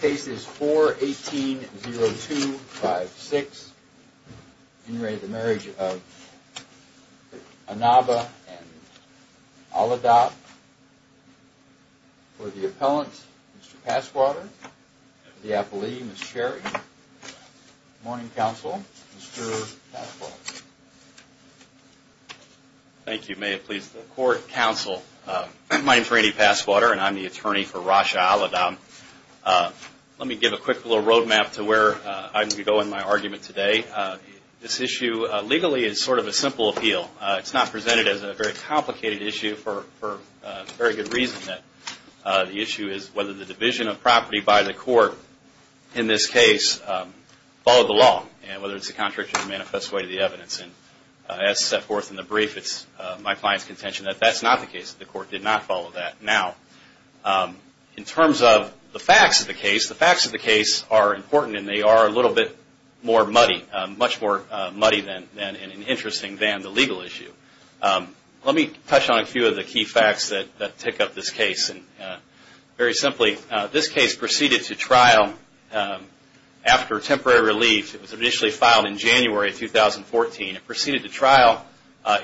Cases 4, 18, 0, 2, 5, 6. In re of the marriage of Annaba and Al-Adab. For the appellant, Mr. Passwater. For the appellee, Ms. Sherry. Morning counsel, Mr. Passwater. Thank you. May it please the court, counsel. My name is Randy Passwater and I'm the attorney for Rasha Al-Adab. Let me give a quick little road map to where I'm going to go in my argument today. This issue, legally, is sort of a simple appeal. It's not presented as a very complicated issue for very good reason. The issue is whether the division of property by the court, in this case, followed the law. And whether it's a contractual manifest way to the evidence. As set forth in the brief, it's my client's contention that that's not the case. The court did not follow that. Now, in terms of the facts of the case, the facts of the case are important and they are a little bit more muddy. Much more muddy and interesting than the legal issue. Let me touch on a few of the key facts that tick up this case. Very simply, this case proceeded to trial after temporary relief. It was initially filed in January 2014. It proceeded to trial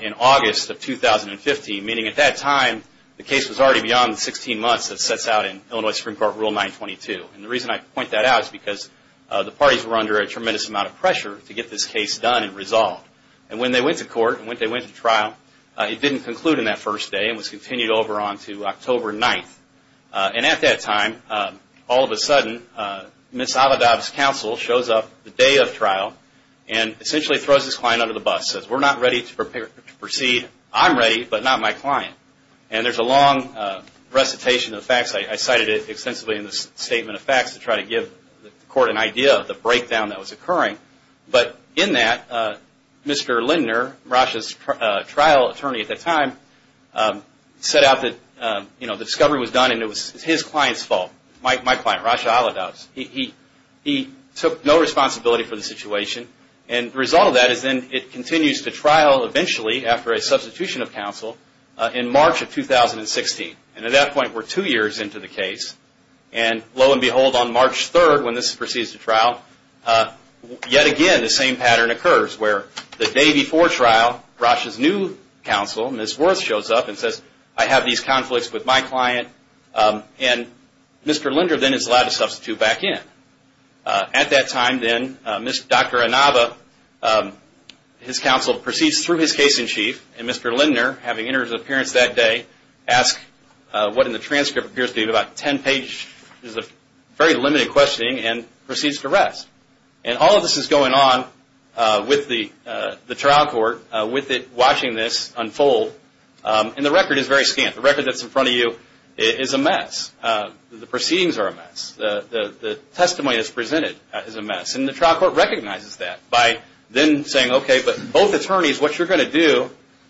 in August of 2015. Meaning, at that time, the case was already beyond the 16 months that sets out in Illinois Supreme Court Rule 922. And the reason I point that out is because the parties were under a tremendous amount of pressure to get this case done and resolved. And when they went to court, when they went to trial, it didn't conclude in that first day. It was continued over on to October 9th. And at that time, all of a sudden, Ms. Avedov's counsel shows up the day of trial and essentially throws this client under the bus. Says, we're not ready to proceed. I'm ready, but not my client. And there's a long recitation of the facts. I cited it extensively in the Statement of Facts to try to give the court an idea of the breakdown that was occurring. But in that, Mr. Lindner, Rasha's trial attorney at that time, set out that the discovery was done and it was his client's fault. My client, Rasha Avedov. He took no responsibility for the situation. And the result of that is that it continues to trial eventually after a substitution of counsel in March of 2016. And at that point, we're two years into the case. And lo and behold, on March 3rd, when this proceeds to trial, yet again, the same pattern occurs. Where the day before trial, Rasha's new counsel, Ms. Worth, shows up and says, I have these conflicts with my client. And Mr. Lindner then is allowed to substitute back in. At that time, then, Dr. Inaba, his counsel, proceeds through his case in chief. And Mr. Lindner, having entered his appearance that day, asks what in the transcript appears to be about 10 pages. It's a very limited questioning and proceeds to rest. And all of this is going on with the trial court, with it watching this unfold. And the record is very scant. The record that's in front of you is a mess. The proceedings are a mess. The testimony that's presented is a mess. And the trial court recognizes that by then saying, okay, but both attorneys, what you're going to do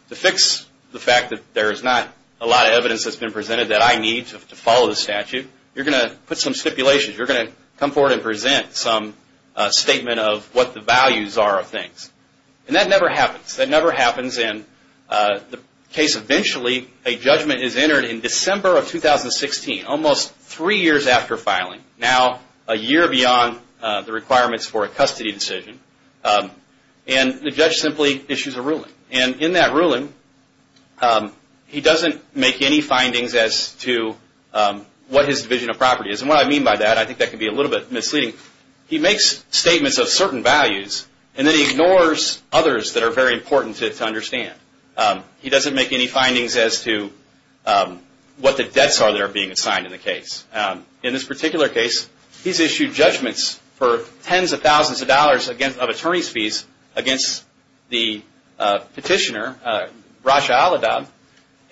to fix the fact that there's not a lot of evidence that's been presented that I need to follow the statute, you're going to put some stipulations. You're going to come forward and present some statement of what the values are of things. And that never happens. That never happens. And the case eventually, a judgment is entered in December of 2016, almost three years after filing. Now, a year beyond the requirements for a custody decision. And the judge simply issues a ruling. And in that ruling, he doesn't make any findings as to what his division of property is. And what I mean by that, I think that can be a little bit misleading. He makes statements of certain values, and then he ignores others that are very important to understand. He doesn't make any findings as to what the debts are that are being assigned in the case. In this particular case, he's issued judgments for tens of thousands of dollars of attorney's fees against the petitioner,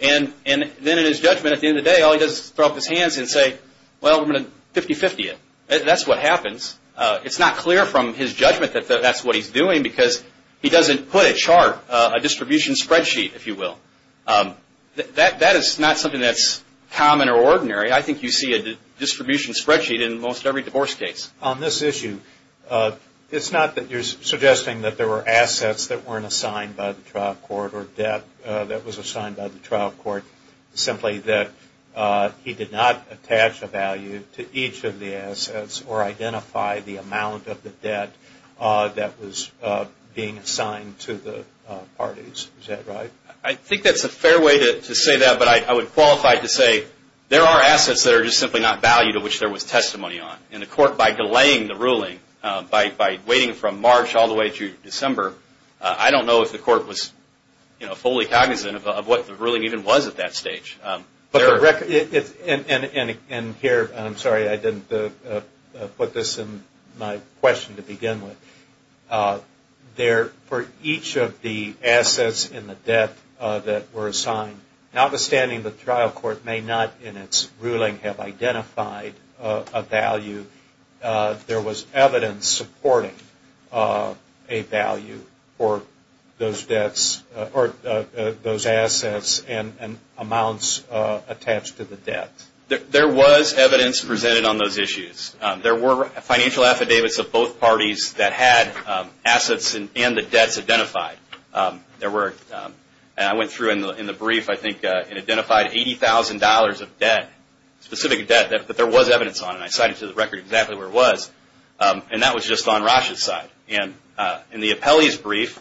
And then in his judgment at the end of the day, all he does is throw up his hands and say, well, we're going to 50-50 it. That's what happens. It's not clear from his judgment that that's what he's doing, because he doesn't put a chart, a distribution spreadsheet, if you will. That is not something that's common or ordinary. I think you see a distribution spreadsheet in most every divorce case. On this issue, it's not that you're suggesting that there were assets that weren't assigned by the trial court or debt that was assigned by the trial court. Simply that he did not attach a value to each of the assets or identify the amount of the debt that was being assigned to the parties. Is that right? I think that's a fair way to say that, but I would qualify to say there are assets that are just simply not valued, of which there was testimony on. And the court, by delaying the ruling, by waiting from March all the way through December, I don't know if the court was fully cognizant of what the ruling even was at that stage. And here, I'm sorry I didn't put this in my question to begin with. For each of the assets and the debt that were assigned, notwithstanding the trial court may not in its ruling have identified a value, there was evidence supporting a value for those debts or those assets and amounts attached to the debt. There was evidence presented on those issues. There were financial affidavits of both parties that had assets and the debts identified. And I went through in the brief, I think, and identified $80,000 of debt, specific debt that there was evidence on. And I cited to the record exactly where it was. And that was just on Rasha's side. And in the appellee's brief,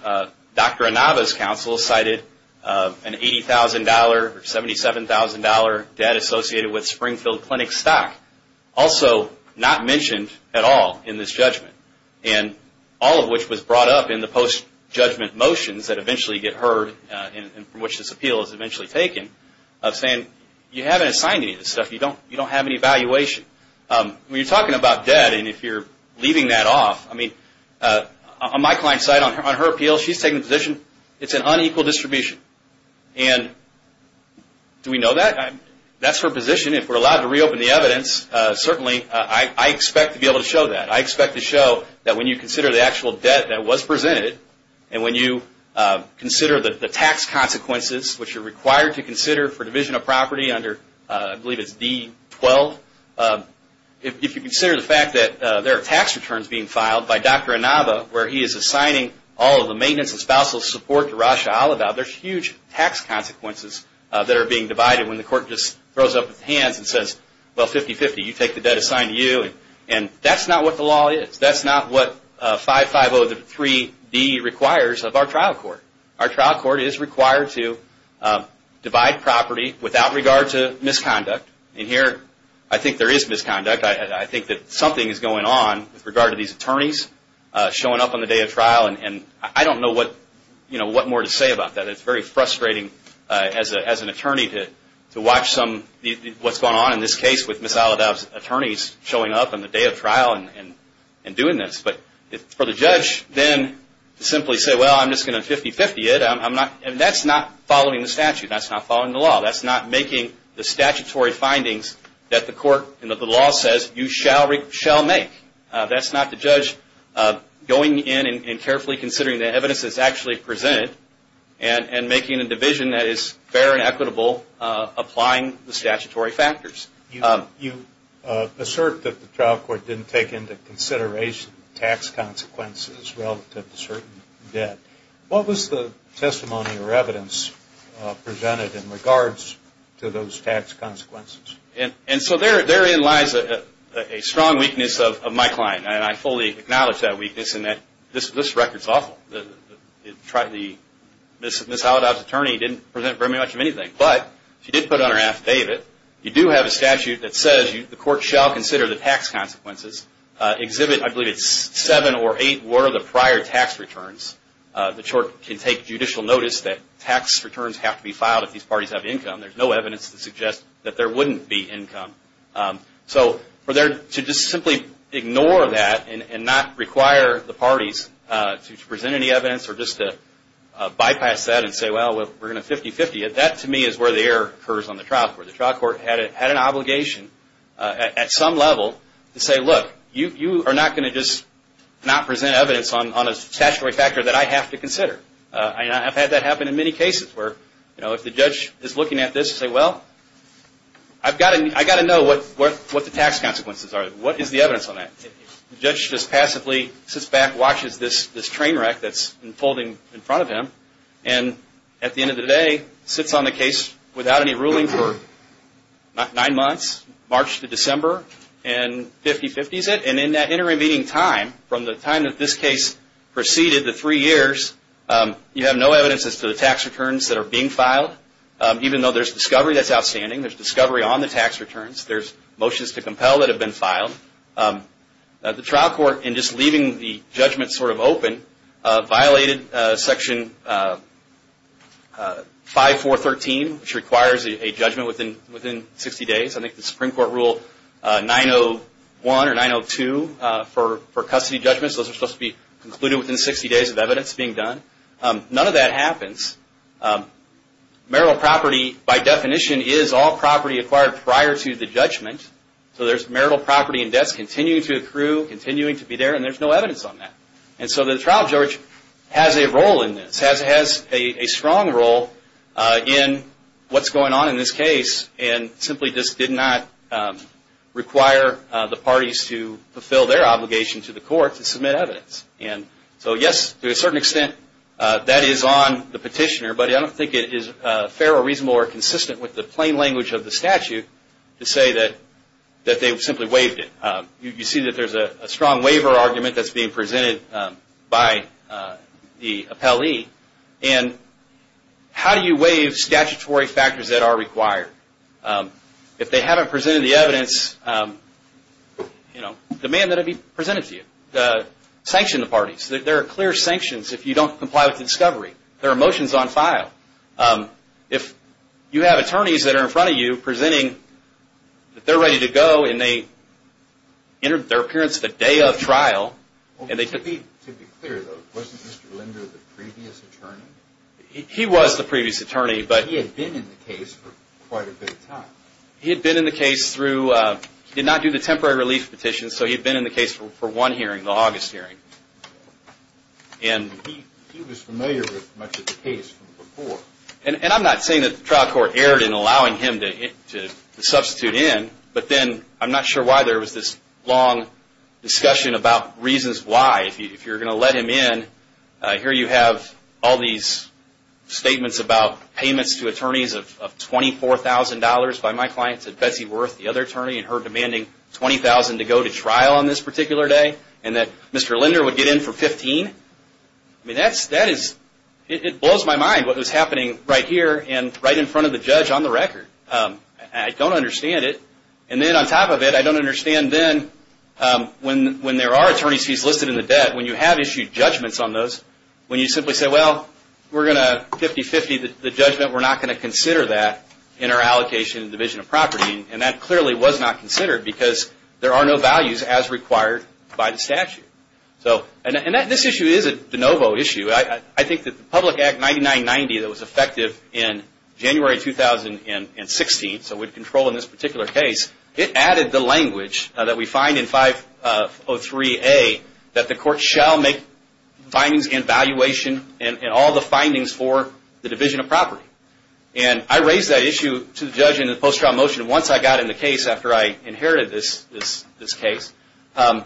Dr. Inaba's counsel cited an $80,000 or $77,000 debt associated with Springfield Clinic stock. Also, not mentioned at all in this judgment. And all of which was brought up in the post-judgment motions that eventually get heard, and from which this appeal is eventually taken, of saying, you haven't assigned any of this stuff. You don't have any valuation. When you're talking about debt, and if you're leaving that off, I mean, on my client's side, on her appeal, she's taking the position it's an unequal distribution. And do we know that? That's her position. If we're allowed to reopen the evidence, certainly I expect to be able to show that. I expect to show that when you consider the actual debt that was presented, and when you consider the tax consequences, which you're required to consider for division of property under, I believe it's D-12. If you consider the fact that there are tax returns being filed by Dr. Inaba, where he is assigning all of the maintenance and spousal support to Rasha Alaba, there's huge tax consequences that are being divided when the court just throws up its hands and says, well, 50-50, you take the debt assigned to you. And that's not what the law is. That's not what 5-5-0-3-D requires of our trial court. Our trial court is required to divide property without regard to misconduct. And here, I think there is misconduct. I think that something is going on with regard to these attorneys showing up on the day of trial. And I don't know what more to say about that. It's very frustrating as an attorney to watch what's going on in this case with Ms. Alaba's attorneys showing up on the day of trial and doing this. But for the judge to simply say, well, I'm just going to 50-50 it, that's not following the statute. That's not following the law. That's not making the statutory findings that the court and the law says you shall make. That's not the judge going in and carefully considering the evidence that's actually presented and making a division that is fair and equitable applying the statutory factors. You assert that the trial court didn't take into consideration tax consequences relative to certain debt. What was the testimony or evidence presented in regards to those tax consequences? And so therein lies a strong weakness of my client. And I fully acknowledge that weakness in that this record is awful. Ms. Alaba's attorney didn't present very much of anything. But she did put it on her affidavit. You do have a statute that says the court shall consider the tax consequences. Exhibit, I believe it's seven or eight were the prior tax returns. The court can take judicial notice that tax returns have to be filed if these parties have income. There's no evidence to suggest that there wouldn't be income. So for there to just simply ignore that and not require the parties to present any evidence or just to bypass that and say, well, we're going to 50-50 it, that to me is where the error occurs on the trial court. The trial court had an obligation at some level to say, look, you are not going to just not present evidence on a statutory factor that I have to consider. And I've had that happen in many cases where, you know, if the judge is looking at this and says, well, I've got to know what the tax consequences are. What is the evidence on that? The judge just passively sits back and watches this train wreck that's unfolding in front of him and at the end of the day sits on the case without any ruling for nine months, March to December and 50-50s it. And in that intervening time, from the time that this case proceeded, the three years, you have no evidence as to the tax returns that are being filed, even though there's discovery that's outstanding. There's discovery on the tax returns. There's motions to compel that have been filed. The trial court, in just leaving the judgment sort of open, violated Section 5.4.13, which requires a judgment within 60 days. I think the Supreme Court Rule 901 or 902 for custody judgments, those are supposed to be concluded within 60 days of evidence being done. None of that happens. Marital property, by definition, is all property acquired prior to the judgment. So there's marital property and debts continuing to accrue, continuing to be there, and there's no evidence on that. And so the trial judge has a role in this, has a strong role in what's going on in this case, and simply just did not require the parties to fulfill their obligation to the court to submit evidence. And so yes, to a certain extent, that is on the petitioner, but I don't think it is fair or reasonable or consistent with the plain language of the statute to say that they simply waived it. You see that there's a strong waiver argument that's being presented by the appellee. And how do you waive statutory factors that are required? If they haven't presented the evidence, demand that it be presented to you. Sanction the parties. There are clear sanctions if you don't comply with the discovery. There are motions on file. If you have attorneys that are in front of you presenting that they're ready to go and they entered their appearance the day of trial and they To be clear though, wasn't Mr. Linder the previous attorney? He was the previous attorney, but But he had been in the case for quite a bit of time. He had been in the case through, he did not do the temporary relief petition, so he had been in the case for one hearing, the August hearing. And he was familiar with much of the case from before. And I'm not saying that the trial court erred in allowing him to substitute in, but then I'm not sure why there was this long discussion about reasons why. If you're going to let him in, here you have all these statements about payments to attorneys of $24,000 by my clients at Betsy Worth, the other attorney, and her demanding $20,000 to go to trial on this particular day, and that Mr. Linder would get in for $15,000. It blows my mind what was happening right here and right in front of the judge on the record. I don't understand it. And then on top of it, I don't understand then when there are attorneys fees listed in the debt, when you have issued judgments on those, when you simply say, well, we're going to 50-50 the judgment, we're not going to consider that in our allocation and division of property. And that clearly was not considered because there are no values as required by the statute. And this issue is a de novo issue. I think that the Public Act 9990 that was effective in January 2016, so we'd control in this particular case, it added the language that we find in 503A that the court shall make findings and valuation in all the findings for the division of property. And I raised that issue to the judge in the post-trial motion once I got in the case after I inherited this case. And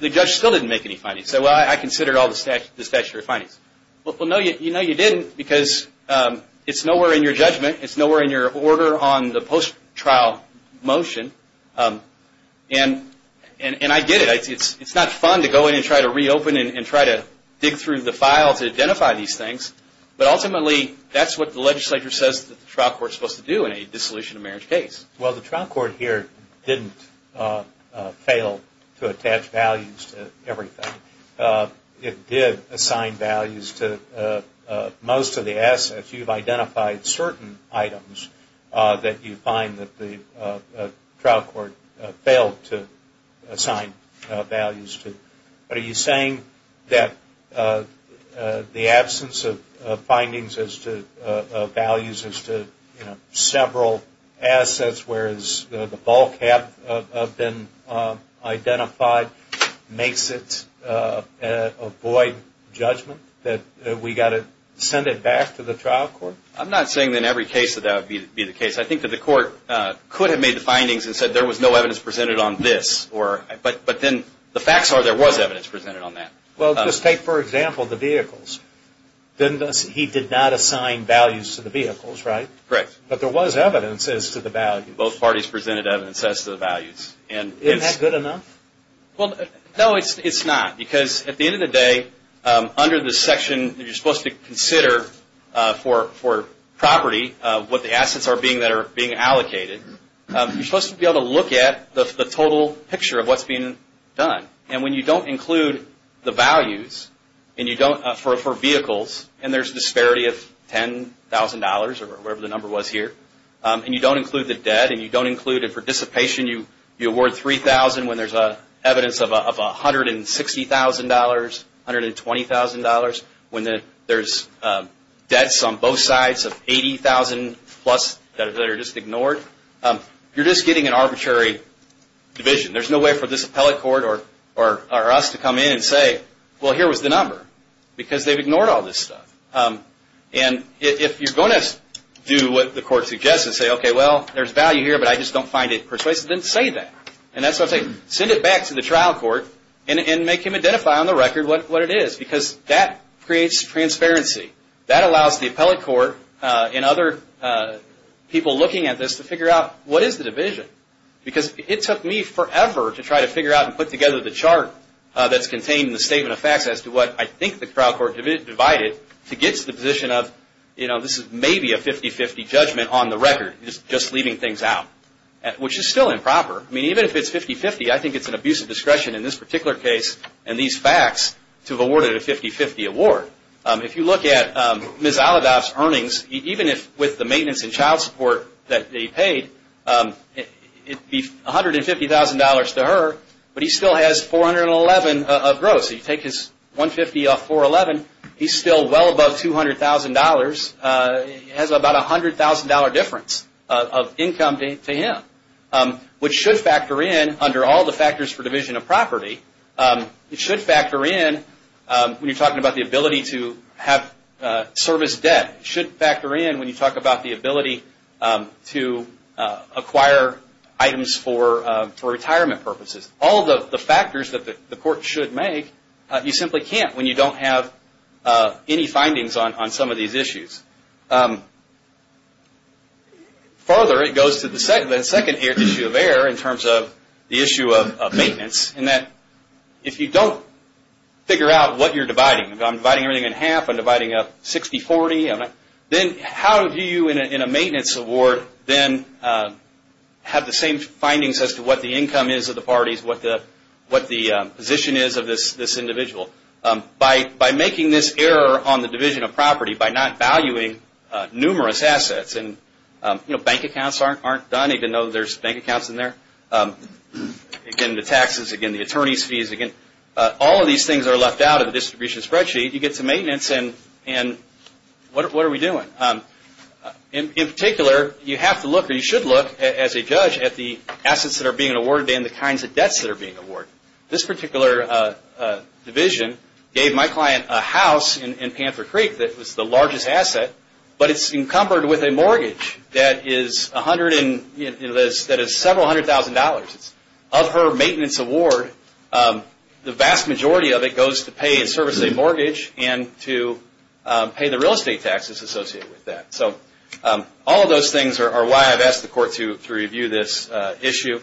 the judge still didn't make any findings. He said, well, I considered all the statutory findings. Well, no, you didn't because it's nowhere in your judgment. It's nowhere in your order on the post-trial motion. And I get it. It's not fun to go in and try to reopen and try to dig through the file to identify these things. But ultimately, that's what the legislature says that the trial court is supposed to do in a dissolution of marriage case. Well, the trial court here didn't fail to attach values to everything. It did assign values to most of the assets. You've identified certain items that you find that the trial court failed to assign values to. But are you saying that the absence of findings as to values as to several assets whereas the bulk have been identified makes it avoid judgment, that we've got to send it back to the trial court? I'm not saying in every case that that would be the case. I think that the court could have made the findings and said there was no evidence presented on this. But then the facts are there was evidence presented on that. Well, just take, for example, the vehicles. He did not assign values to the vehicles, right? Correct. But there was evidence as to the value. Both parties presented evidence as to the values. Isn't that good enough? Well, no, it's not. Because at the end of the day, under the section that you're supposed to consider for property, what the assets are being allocated, you're supposed to be able to look at the total picture of what's being done. And when you don't include the values for vehicles, and there's a disparity of $10,000 or whatever the number was here, and you don't include the debt and you don't include a participation, you award $3,000 when there's evidence of $160,000, $120,000 when there's debts on both sides of $80,000-plus that are just ignored, you're just getting an arbitrary division. There's no way for this appellate court or us to come in and say, well, here was the number. Because they've ignored all this stuff. And if you're going to do what the court suggests and say, okay, well, there's value here, but I just don't find it persuasive, then say that. And that's what I'm saying. Send it back to the trial court and make him identify on the record what it is. Because that creates transparency. That allows the appellate court and other people looking at this to figure out what is the division. Because it took me forever to try to figure out and put together the chart that's contained in the Statement of Facts as to what I think the trial court divided to get to the position of this is maybe a 50-50 judgment on the record, just leaving things out, which is still improper. I mean, even if it's 50-50, I think it's an abuse of discretion in this particular case and these facts to have awarded a 50-50 award. If you look at Ms. Alidov's earnings, even with the maintenance and child support that they paid, it would be $150,000 to her, but he still has $411,000 of gross. You take his $150,000 off $411,000, he's still well above $200,000. He has about a $100,000 difference of income to him, which should factor in under all the factors for division of property. It should factor in when you're talking about the ability to have service debt. It should factor in when you talk about the ability to acquire items for retirement purposes. All the factors that the court should make, you simply can't when you don't have any findings on some of these issues. Further, it goes to the second issue of error in terms of the issue of maintenance, in that if you don't figure out what you're dividing, if I'm dividing everything in half, I'm dividing up 60-40, then how do you, in a maintenance award, then have the same findings as to what the income is of the parties, what the position is of this individual? By making this error on the division of property, by not valuing numerous assets, and bank accounts aren't done, even though there's bank accounts in there, again, the taxes, again, the attorney's fees, again, all of these things are left out of the distribution spreadsheet. You get to maintenance, and what are we doing? In particular, you have to look, or you should look, as a judge, at the assets that are being awarded and the kinds of debts that are being awarded. This particular division gave my client a house in Panther Creek that was the largest asset, but it's encumbered with a mortgage that is several hundred thousand dollars. Of her maintenance award, the vast majority of it goes to pay and service a mortgage and to pay the real estate taxes associated with that. All of those things are why I've asked the court to review this issue.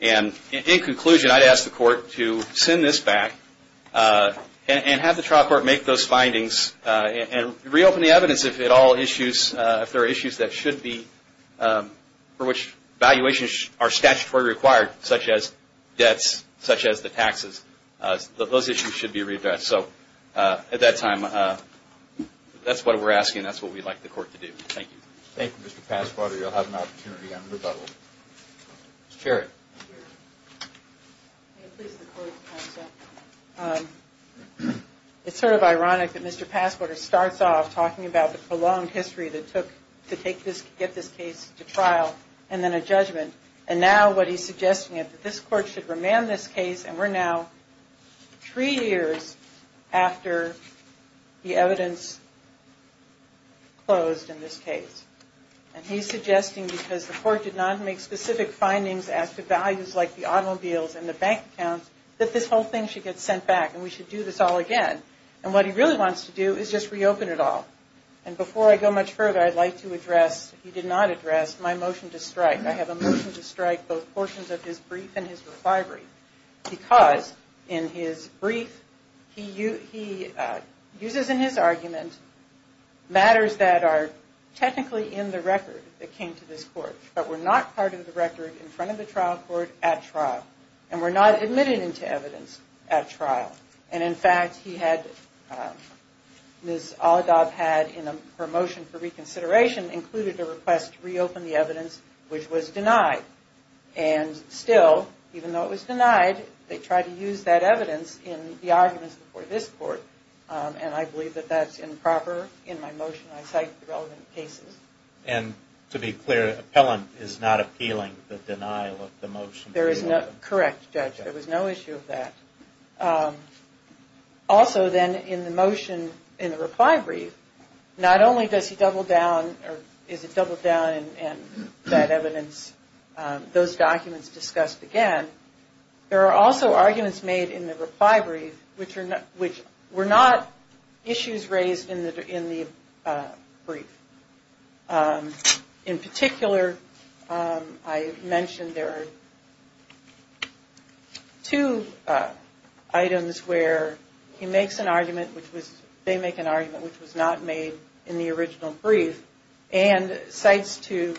In conclusion, I'd ask the court to send this back and have the trial court make those findings and reopen the evidence if there are issues for which valuations are statutorily required, such as debts, such as the taxes. Those issues should be readdressed. At that time, that's what we're asking. That's what we'd like the court to do. Thank you. Thank you, Mr. Passwater. You'll have an opportunity on rebuttal. Ms. Cherry. Thank you. It's sort of ironic that Mr. Passwater starts off talking about the prolonged history that it took to get this case to trial and then a judgment. And now what he's suggesting is that this court should remand this case, and we're now three years after the evidence closed in this case. And he's suggesting, because the court did not make specific findings as to values like the automobiles and the bank accounts, that this whole thing should get sent back and we should do this all again. And what he really wants to do is just reopen it all. And before I go much further, I'd like to address, he did not address, my motion to strike. I have a motion to strike both portions of his brief and his requirements, because in his brief, he uses in his argument matters that are technically in the record that came to this court, but were not part of the record in front of the trial court at trial, and were not admitted into evidence at trial. And, in fact, he had, Ms. Oladob had in her motion for reconsideration, included a request to reopen the evidence, which was denied. And, still, even though it was denied, they tried to use that evidence in the arguments before this court. And I believe that that's improper in my motion. I cite the relevant cases. And, to be clear, appellant is not appealing the denial of the motion. There is no, correct, Judge. There was no issue of that. Also, then, in the motion, in the reply brief, not only does he double down, or is it doubled down in that evidence, those documents discussed again, there are also arguments made in the reply brief which were not issues raised in the brief. In particular, I mentioned there are two items where he makes an argument, which was they make an argument which was not made in the original brief, and cites to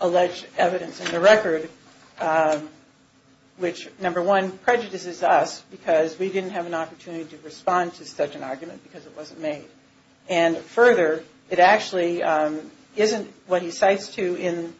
alleged evidence in the record, which, number one, prejudices us because we didn't have an opportunity to respond to such an argument because it wasn't made. And, further, it actually isn't what he cites to in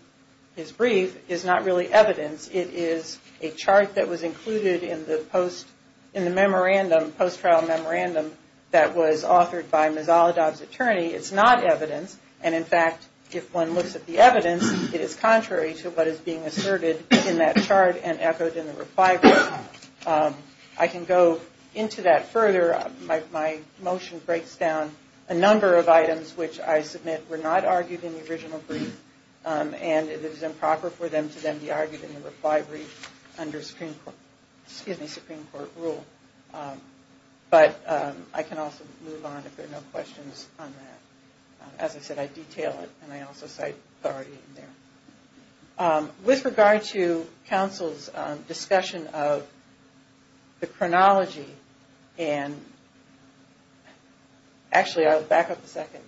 his brief is not really evidence. It is a chart that was included in the post, in the memorandum, post-trial memorandum, that was authored by Ms. Oladob's attorney. It's not evidence. And, in fact, if one looks at the evidence, it is contrary to what is being asserted in that chart and echoed in the reply brief. I can go into that further. My motion breaks down a number of items which I submit were not argued in the original brief, and it is improper for them to then be argued in the reply brief under Supreme Court rule. But I can also move on if there are no questions on that. As I said, I detail it, and I also cite authority in there. With regard to counsel's discussion of the chronology, and actually I'll back up a second.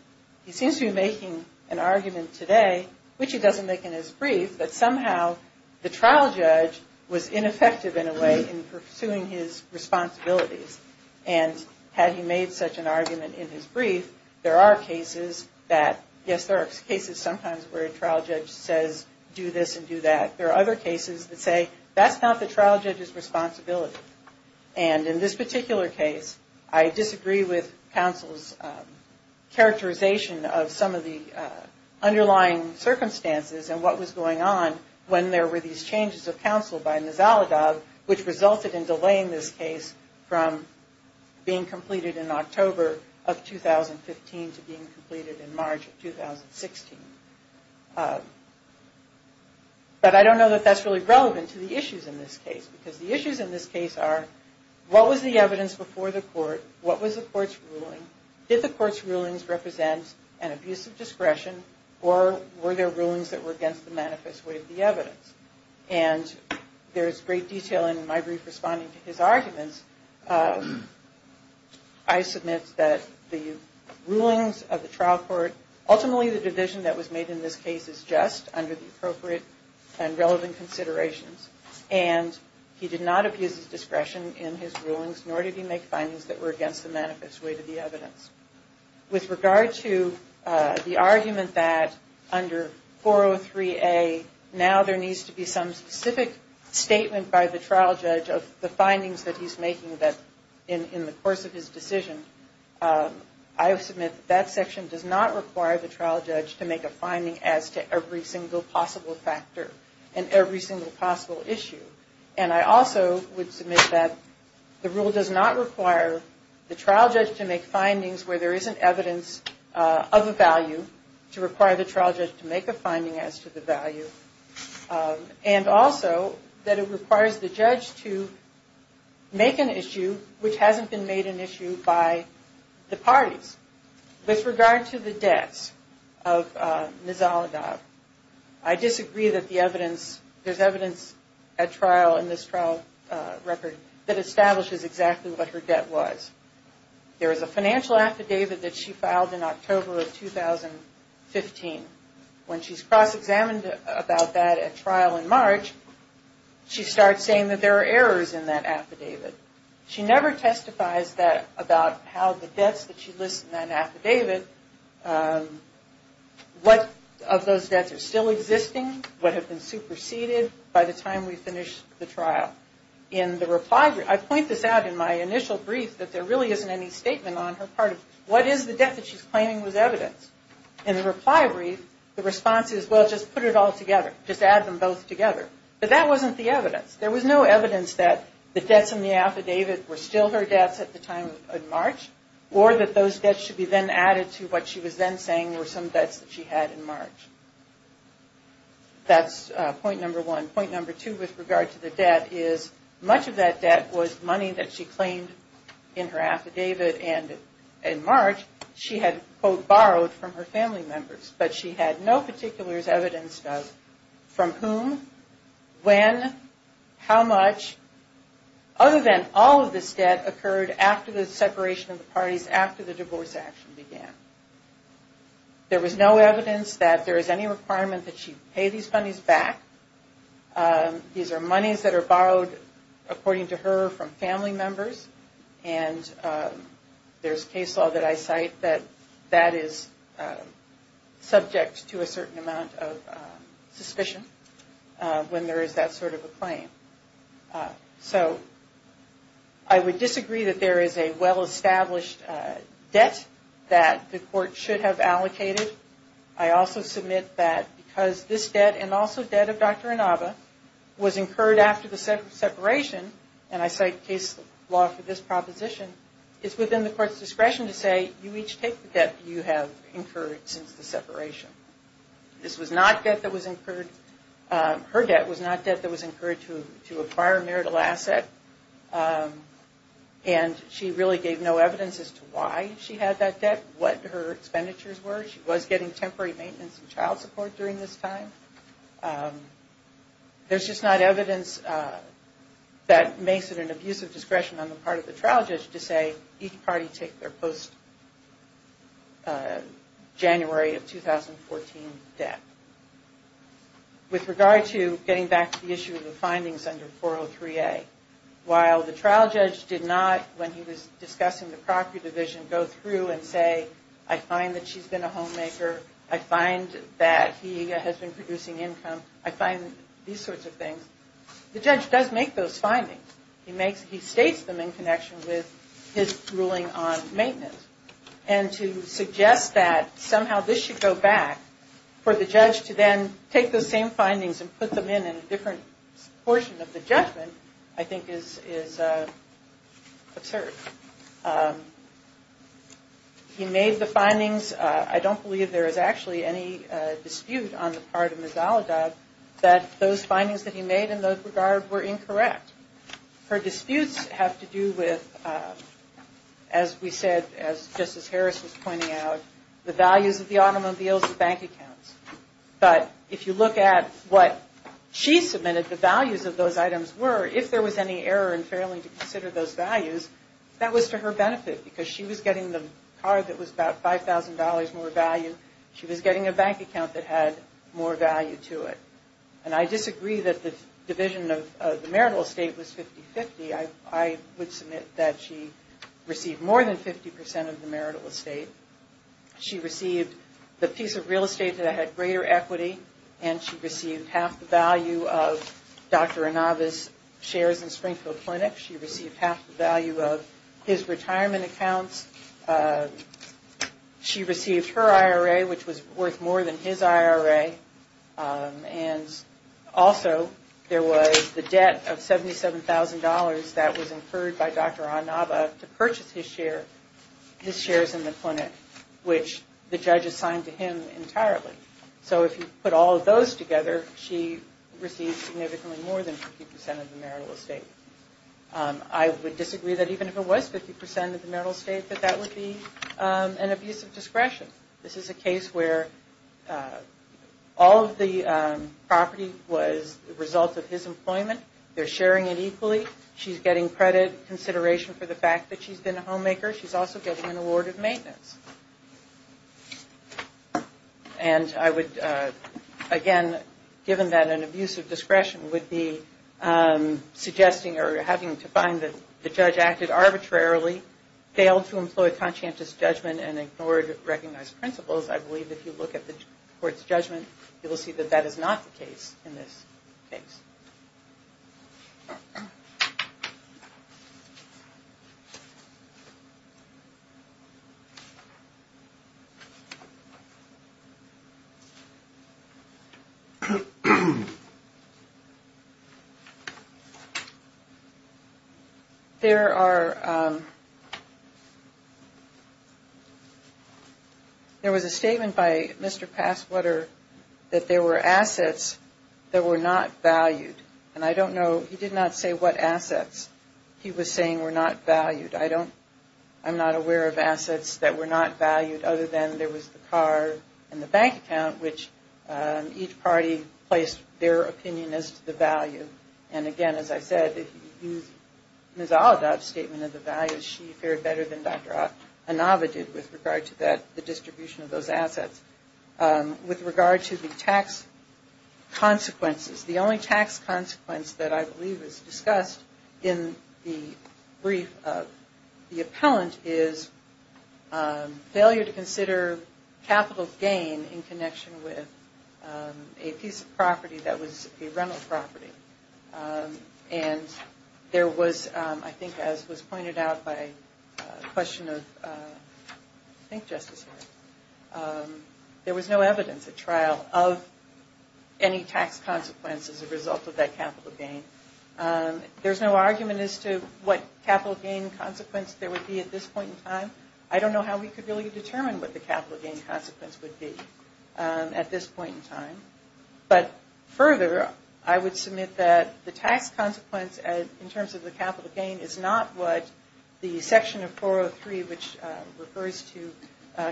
He seems to be making an argument today, which he doesn't make in his brief, that somehow the trial judge was ineffective in a way in pursuing his responsibilities. And had he made such an argument in his brief, there are cases that, yes, there are cases sometimes where a trial judge says do this and do that. There are other cases that say that's not the trial judge's responsibility. And in this particular case, I disagree with counsel's characterization of some of the underlying circumstances and what was going on when there were these changes of counsel by Nizalegov, which resulted in delaying this case from being completed in October of 2015 to being completed in March of 2016. But I don't know that that's really relevant to the issues in this case, because the issues in this case are what was the evidence before the court? What was the court's ruling? Did the court's rulings represent an abuse of discretion, or were there rulings that were against the manifest way of the evidence? And there's great detail in my brief responding to his arguments. I submit that the rulings of the trial court, ultimately the division that was made in this case is just under the appropriate and relevant considerations. And he did not abuse his discretion in his rulings, nor did he make findings that were against the manifest way to the evidence. With regard to the argument that under 403A, now there needs to be some specific statement by the trial judge of the findings that he's making in the course of his decision, I submit that that section does not require the trial judge to make a finding as to every single possible factor and every single possible issue. And I also would submit that the rule does not require the trial judge to make findings where there isn't evidence of a value, to require the trial judge to make a finding as to the value, and also that it requires the judge to make an issue which hasn't been made an issue by the parties. With regard to the debts of Ms. Olagab, I disagree that there's evidence at trial in this trial record that establishes exactly what her debt was. There is a financial affidavit that she filed in October of 2015. When she's cross-examined about that at trial in March, she starts saying that there are errors in that affidavit. She never testifies about how the debts that she lists in that affidavit, what of those debts are still existing, what have been superseded by the time we finish the trial. In the reply brief, I point this out in my initial brief, that there really isn't any statement on her part of what is the debt that she's claiming was evidence. In the reply brief, the response is, well, just put it all together, just add them both together. But that wasn't the evidence. There was no evidence that the debts in the affidavit were still her debts at the time of March, or that those debts should be then added to what she was then saying were some debts that she had in March. That's point number one. Point number two with regard to the debt is, much of that debt was money that she claimed in her affidavit, and in March, she had, quote, borrowed from her family members. But she had no particulars evidenced of from whom, when, how much, other than all of this debt occurred after the separation of the parties, after the divorce action began. There was no evidence that there is any requirement that she pay these monies back. These are monies that are borrowed, according to her, from family members. And there's case law that I cite that that is subject to a certain amount of suspicion, when there is that sort of a claim. So I would disagree that there is a well-established debt that the court should have allocated. I also submit that because this debt, and also debt of Dr. Inaba, was incurred after the separation, and I cite case law for this proposition, it's within the court's discretion to say you each take the debt you have incurred since the separation. This was not debt that was incurred. Her debt was not debt that was incurred to acquire a marital asset, and she really gave no evidence as to why she had that debt, what her expenditures were. She was getting temporary maintenance and child support during this time. There's just not evidence that makes it an abuse of discretion on the part of the trial judge to say each party take their post-January of 2014 debt. With regard to getting back to the issue of the findings under 403A, while the trial judge did not, when he was discussing the property division, go through and say, I find that she's been a homemaker, I find that he has been producing income, I find these sorts of things, the judge does make those findings. He states them in connection with his ruling on maintenance, and to suggest that somehow this should go back for the judge to then take those same findings and put them in a different portion of the judgment I think is absurd. He made the findings. I don't believe there is actually any dispute on the part of Ms. Alida that those findings that he made in that regard were incorrect. Her disputes have to do with, as we said, as Justice Harris was pointing out, the values of the automobiles and bank accounts. But if you look at what she submitted, the values of those items were, if there was any error in failing to consider those values, that was to her benefit because she was getting the car that was about $5,000 more value, she was getting a bank account that had more value to it. And I disagree that the division of the marital estate was 50-50. I would submit that she received more than 50% of the marital estate. She received the piece of real estate that had greater equity, and she received half the value of Dr. Inaba's shares in Springfield Clinic. She received half the value of his retirement accounts. She received her IRA, which was worth more than his IRA. And also there was the debt of $77,000 that was incurred by Dr. Inaba to purchase his shares in the clinic, which the judge assigned to him entirely. So if you put all of those together, she received significantly more than 50% of the marital estate. I would disagree that even if it was 50% of the marital estate, that that would be an abuse of discretion. This is a case where all of the property was the result of his employment. They're sharing it equally. She's getting credit consideration for the fact that she's been a homemaker. She's also getting an award of maintenance. And I would, again, given that an abuse of discretion would be suggesting or having to find that the judge acted arbitrarily, failed to employ conscientious judgment, and ignored recognized principles, I believe if you look at the court's judgment, you will see that that is not the case in this case. There was a statement by Mr. Passwater that there were assets that were not valued. And I don't know, he did not say what assets. He was saying were not valued. I don't, I'm not aware of assets that were not valued, other than there was the car and the bank account, which each party placed their opinion as to the value. And again, as I said, if you use Ms. Olodot's statement of the values, she fared better than Dr. Inova did with regard to that, the distribution of those assets. With regard to the tax consequences, the only tax consequence that I believe is discussed in the brief of the appellant is failure to consider capital gain in connection with a piece of property that was a rental property. And there was, I think as was pointed out by a question of, I think Justice Harris, there was no evidence at trial of any tax consequences as a result of that capital gain. There's no argument as to what capital gain consequence there would be at this point in time. I don't know how we could really determine what the capital gain consequence would be at this point in time. But further, I would submit that the tax consequence in terms of the capital gain is not what the section of 403, which refers to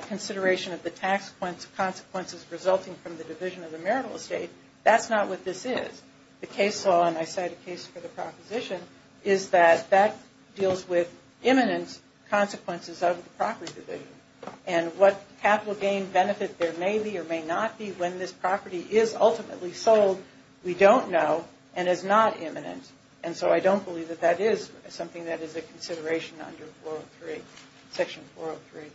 consideration of the tax consequences resulting from the division of the marital estate, that's not what this is. The case law, and I cite a case for the proposition, is that that deals with imminent consequences of the property division. And what capital gain benefit there may be or may not be when this property is ultimately sold, we don't know and is not imminent. And so I don't believe that that is something that is a consideration under section 403.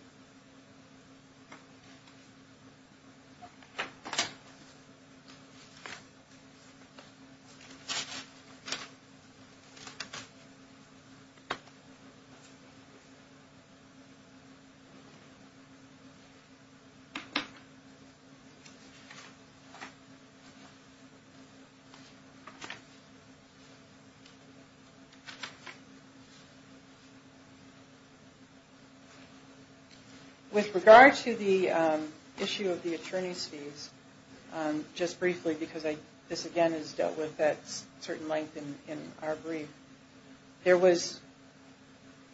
With regard to the issue of the attorney's fees, just briefly because this again is dealt with at certain length in our brief, there was,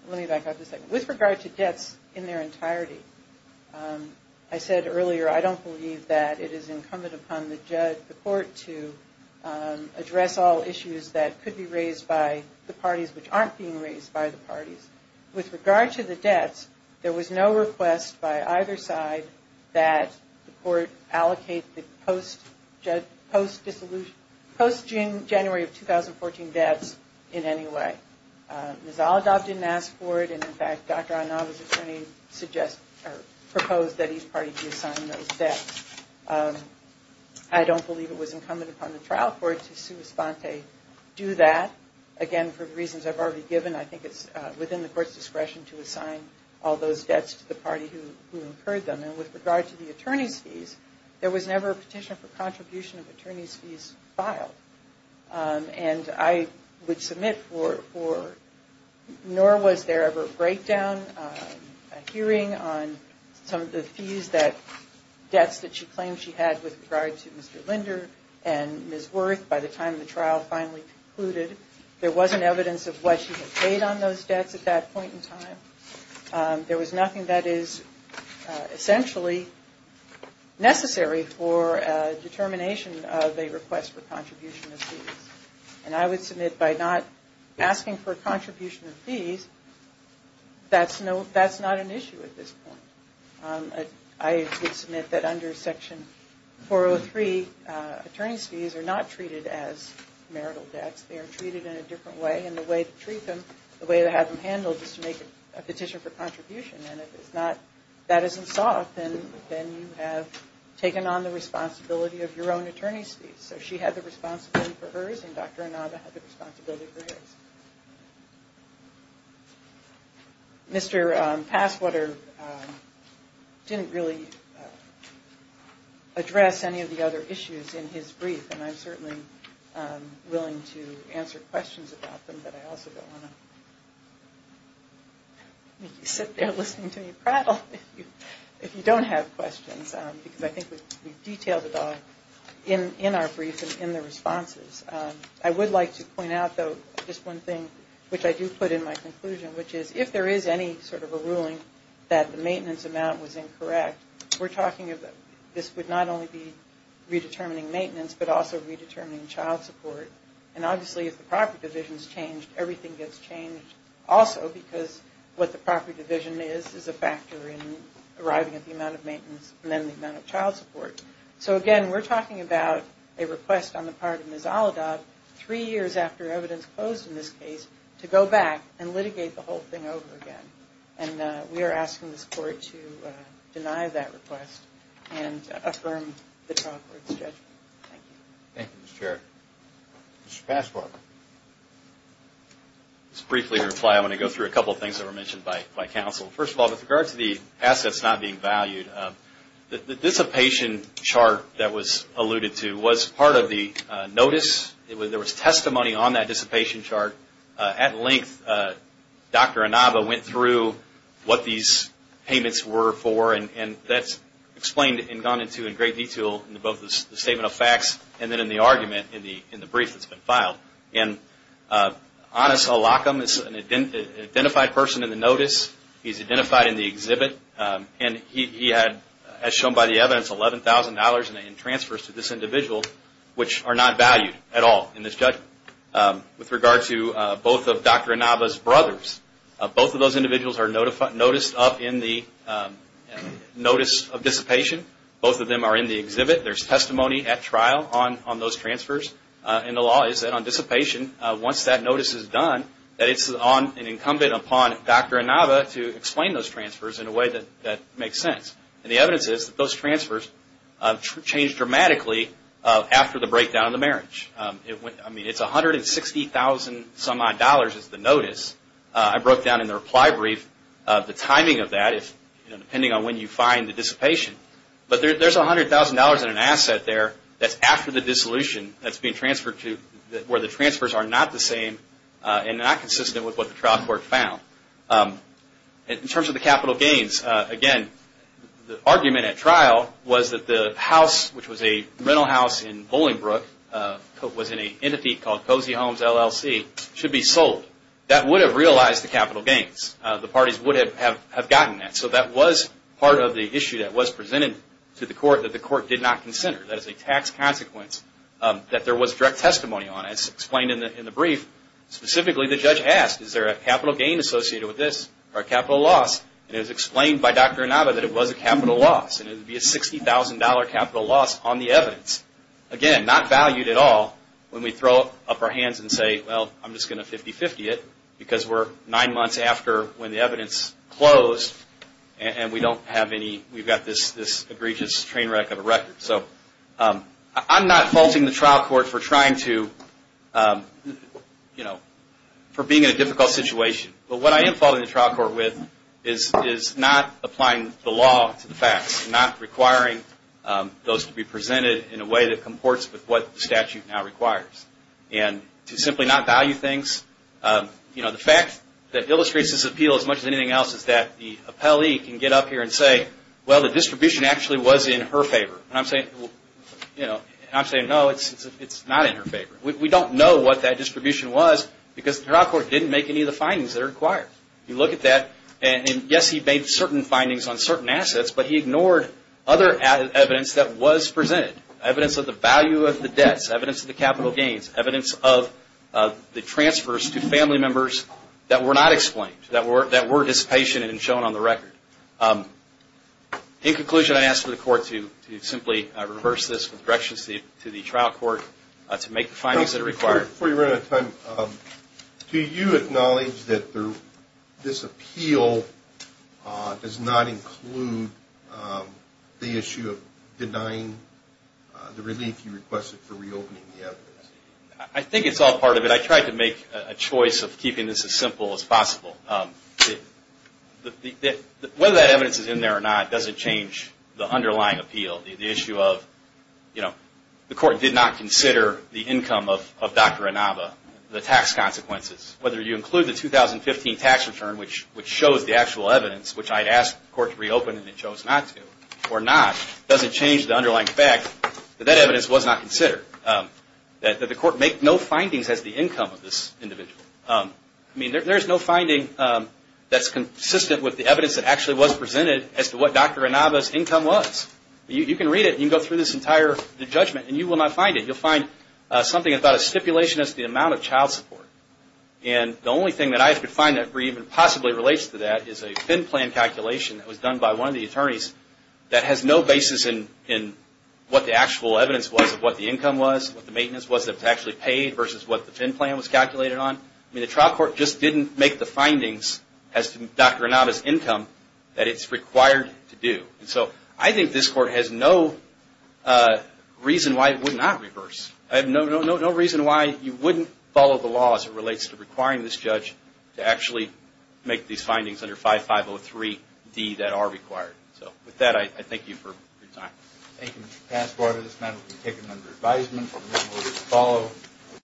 let me back up a second, with regard to debts in their entirety, I said earlier I don't believe that it is incumbent upon the court to address all issues that could be raised by the parties which aren't being raised by the parties. With regard to the debts, there was no request by either side that the court allocate the post-January of 2014 debts in any way. Ms. Oladob didn't ask for it, and in fact Dr. Onaba's attorney proposed that each party be assigned those debts. I don't believe it was incumbent upon the trial court to do that. Again, for reasons I've already given, I think it's within the court's discretion to assign all those debts to the party who incurred them. And with regard to the attorney's fees, there was never a petition for contribution of attorney's fees filed. And I would submit for, nor was there ever a breakdown, a hearing on some of the fees that, debts that she claimed she had with regard to Mr. Linder and Ms. Worth by the time the trial finally concluded. There wasn't evidence of what she had paid on those debts at that point in time. There was nothing that is essentially necessary for determination of a request for contribution of fees. And I would submit by not asking for a contribution of fees, that's not an issue at this point. I would submit that under Section 403, attorney's fees are not treated as marital debts. They are treated in a different way, and the way to treat them, the way to have them handled is to make a petition for contribution. And if it's not, that isn't sought, then you have taken on the responsibility of your own attorney's fees. So she had the responsibility for hers, and Dr. Inaba had the responsibility for hers. Mr. Passwater didn't really address any of the other issues in his brief, and I'm certainly willing to answer questions about them. But I also don't want to make you sit there listening to me prattle if you don't have questions, because I think we've detailed it all in our brief and in the responses. I would like to point out, though, just one thing, which I do put in my conclusion, which is if there is any sort of a ruling that the maintenance amount was incorrect, this would not only be redetermining maintenance, but also redetermining child support. And obviously, if the property division is changed, everything gets changed also, because what the property division is is a factor in arriving at the amount of maintenance and then the amount of child support. So again, we're talking about a request on the part of Ms. Olodot, three years after evidence closed in this case, to go back and litigate the whole thing over again. And we are asking this Court to deny that request and affirm the child support schedule. Thank you. Thank you, Mr. Chair. Mr. Passwater. Just briefly to reply, I want to go through a couple of things that were mentioned by counsel. First of all, with regard to the assets not being valued, the dissipation chart that was alluded to was part of the notice. There was testimony on that dissipation chart. At length, Dr. Inaba went through what these payments were for, and that's explained and gone into in great detail in both the statement of facts and then in the argument in the brief that's been filed. And Anas Alakam is an identified person in the notice. He's identified in the exhibit. And he had, as shown by the evidence, $11,000 in transfers to this individual, which are not valued at all in this judgment. With regard to both of Dr. Inaba's brothers, both of those individuals are noticed up in the notice of dissipation. Both of them are in the exhibit. There's testimony at trial on those transfers. And the law is that on dissipation, once that notice is done, that it's incumbent upon Dr. Inaba to explain those transfers in a way that makes sense. And the evidence is that those transfers changed dramatically after the breakdown of the marriage. I mean, it's $160,000-some-odd dollars is the notice. I broke down in the reply brief the timing of that, depending on when you find the dissipation. But there's $100,000 in an asset there that's after the dissolution that's being transferred to where the transfers are not the same and not consistent with what the trial court found. In terms of the capital gains, again, the argument at trial was that the house, which was a rental house in Bolingbrook, was in an entity called Cozy Homes, LLC, should be sold. That would have realized the capital gains. The parties would have gotten that. So that was part of the issue that was presented to the court that the court did not consider. That is a tax consequence that there was direct testimony on. It's explained in the brief. Specifically, the judge asked, is there a capital gain associated with this or a capital loss? And it was explained by Dr. Inaba that it was a capital loss. It would be a $60,000 capital loss on the evidence. Again, not valued at all when we throw up our hands and say, well, I'm just going to 50-50 it because we're nine months after when the evidence closed and we've got this egregious train wreck of a record. I'm not faulting the trial court for being in a difficult situation. But what I am faulting the trial court with is not applying the law to the facts, not requiring those to be presented in a way that comports with what the statute now requires, and to simply not value things. The fact that illustrates this appeal as much as anything else is that the appellee can get up here and say, well, the distribution actually was in her favor. And I'm saying, no, it's not in her favor. We don't know what that distribution was because the trial court didn't make any of the findings that are required. You look at that, and yes, he made certain findings on certain assets, but he ignored other evidence that was presented, evidence of the value of the debts, evidence of the capital gains, evidence of the transfers to family members that were not explained, that were dissipation and shown on the record. In conclusion, I ask for the court to simply reverse this with directions to the trial court to make the findings that are required. Before you run out of time, do you acknowledge that this appeal does not include the issue of denying the relief you requested for reopening the evidence? I think it's all part of it. I tried to make a choice of keeping this as simple as possible. Whether that evidence is in there or not doesn't change the underlying appeal, the issue of the court did not consider the income of Dr. Inaba, the tax consequences. Whether you include the 2015 tax return, which shows the actual evidence, which I had asked the court to reopen and it chose not to or not, doesn't change the underlying fact that that evidence was not considered, that the court made no findings as to the income of this individual. There's no finding that's consistent with the evidence that actually was presented as to what Dr. Inaba's income was. You can read it and you can go through this entire judgment and you will not find it. You'll find something about a stipulation as to the amount of child support. The only thing that I could find that even possibly relates to that is a FIN plan calculation that was done by one of the attorneys that has no basis in what the actual evidence was of what the income was, what the maintenance was that was actually paid versus what the FIN plan was calculated on. The trial court just didn't make the findings as to Dr. Inaba's income that it's required to do. I think this court has no reason why it would not reverse. I have no reason why you wouldn't follow the law as it relates to requiring this judge to actually make these findings under 5503D that are required. With that, I thank you for your time. Thank you, Mr. Passwater. This matter has been taken under advisement. Remember to follow.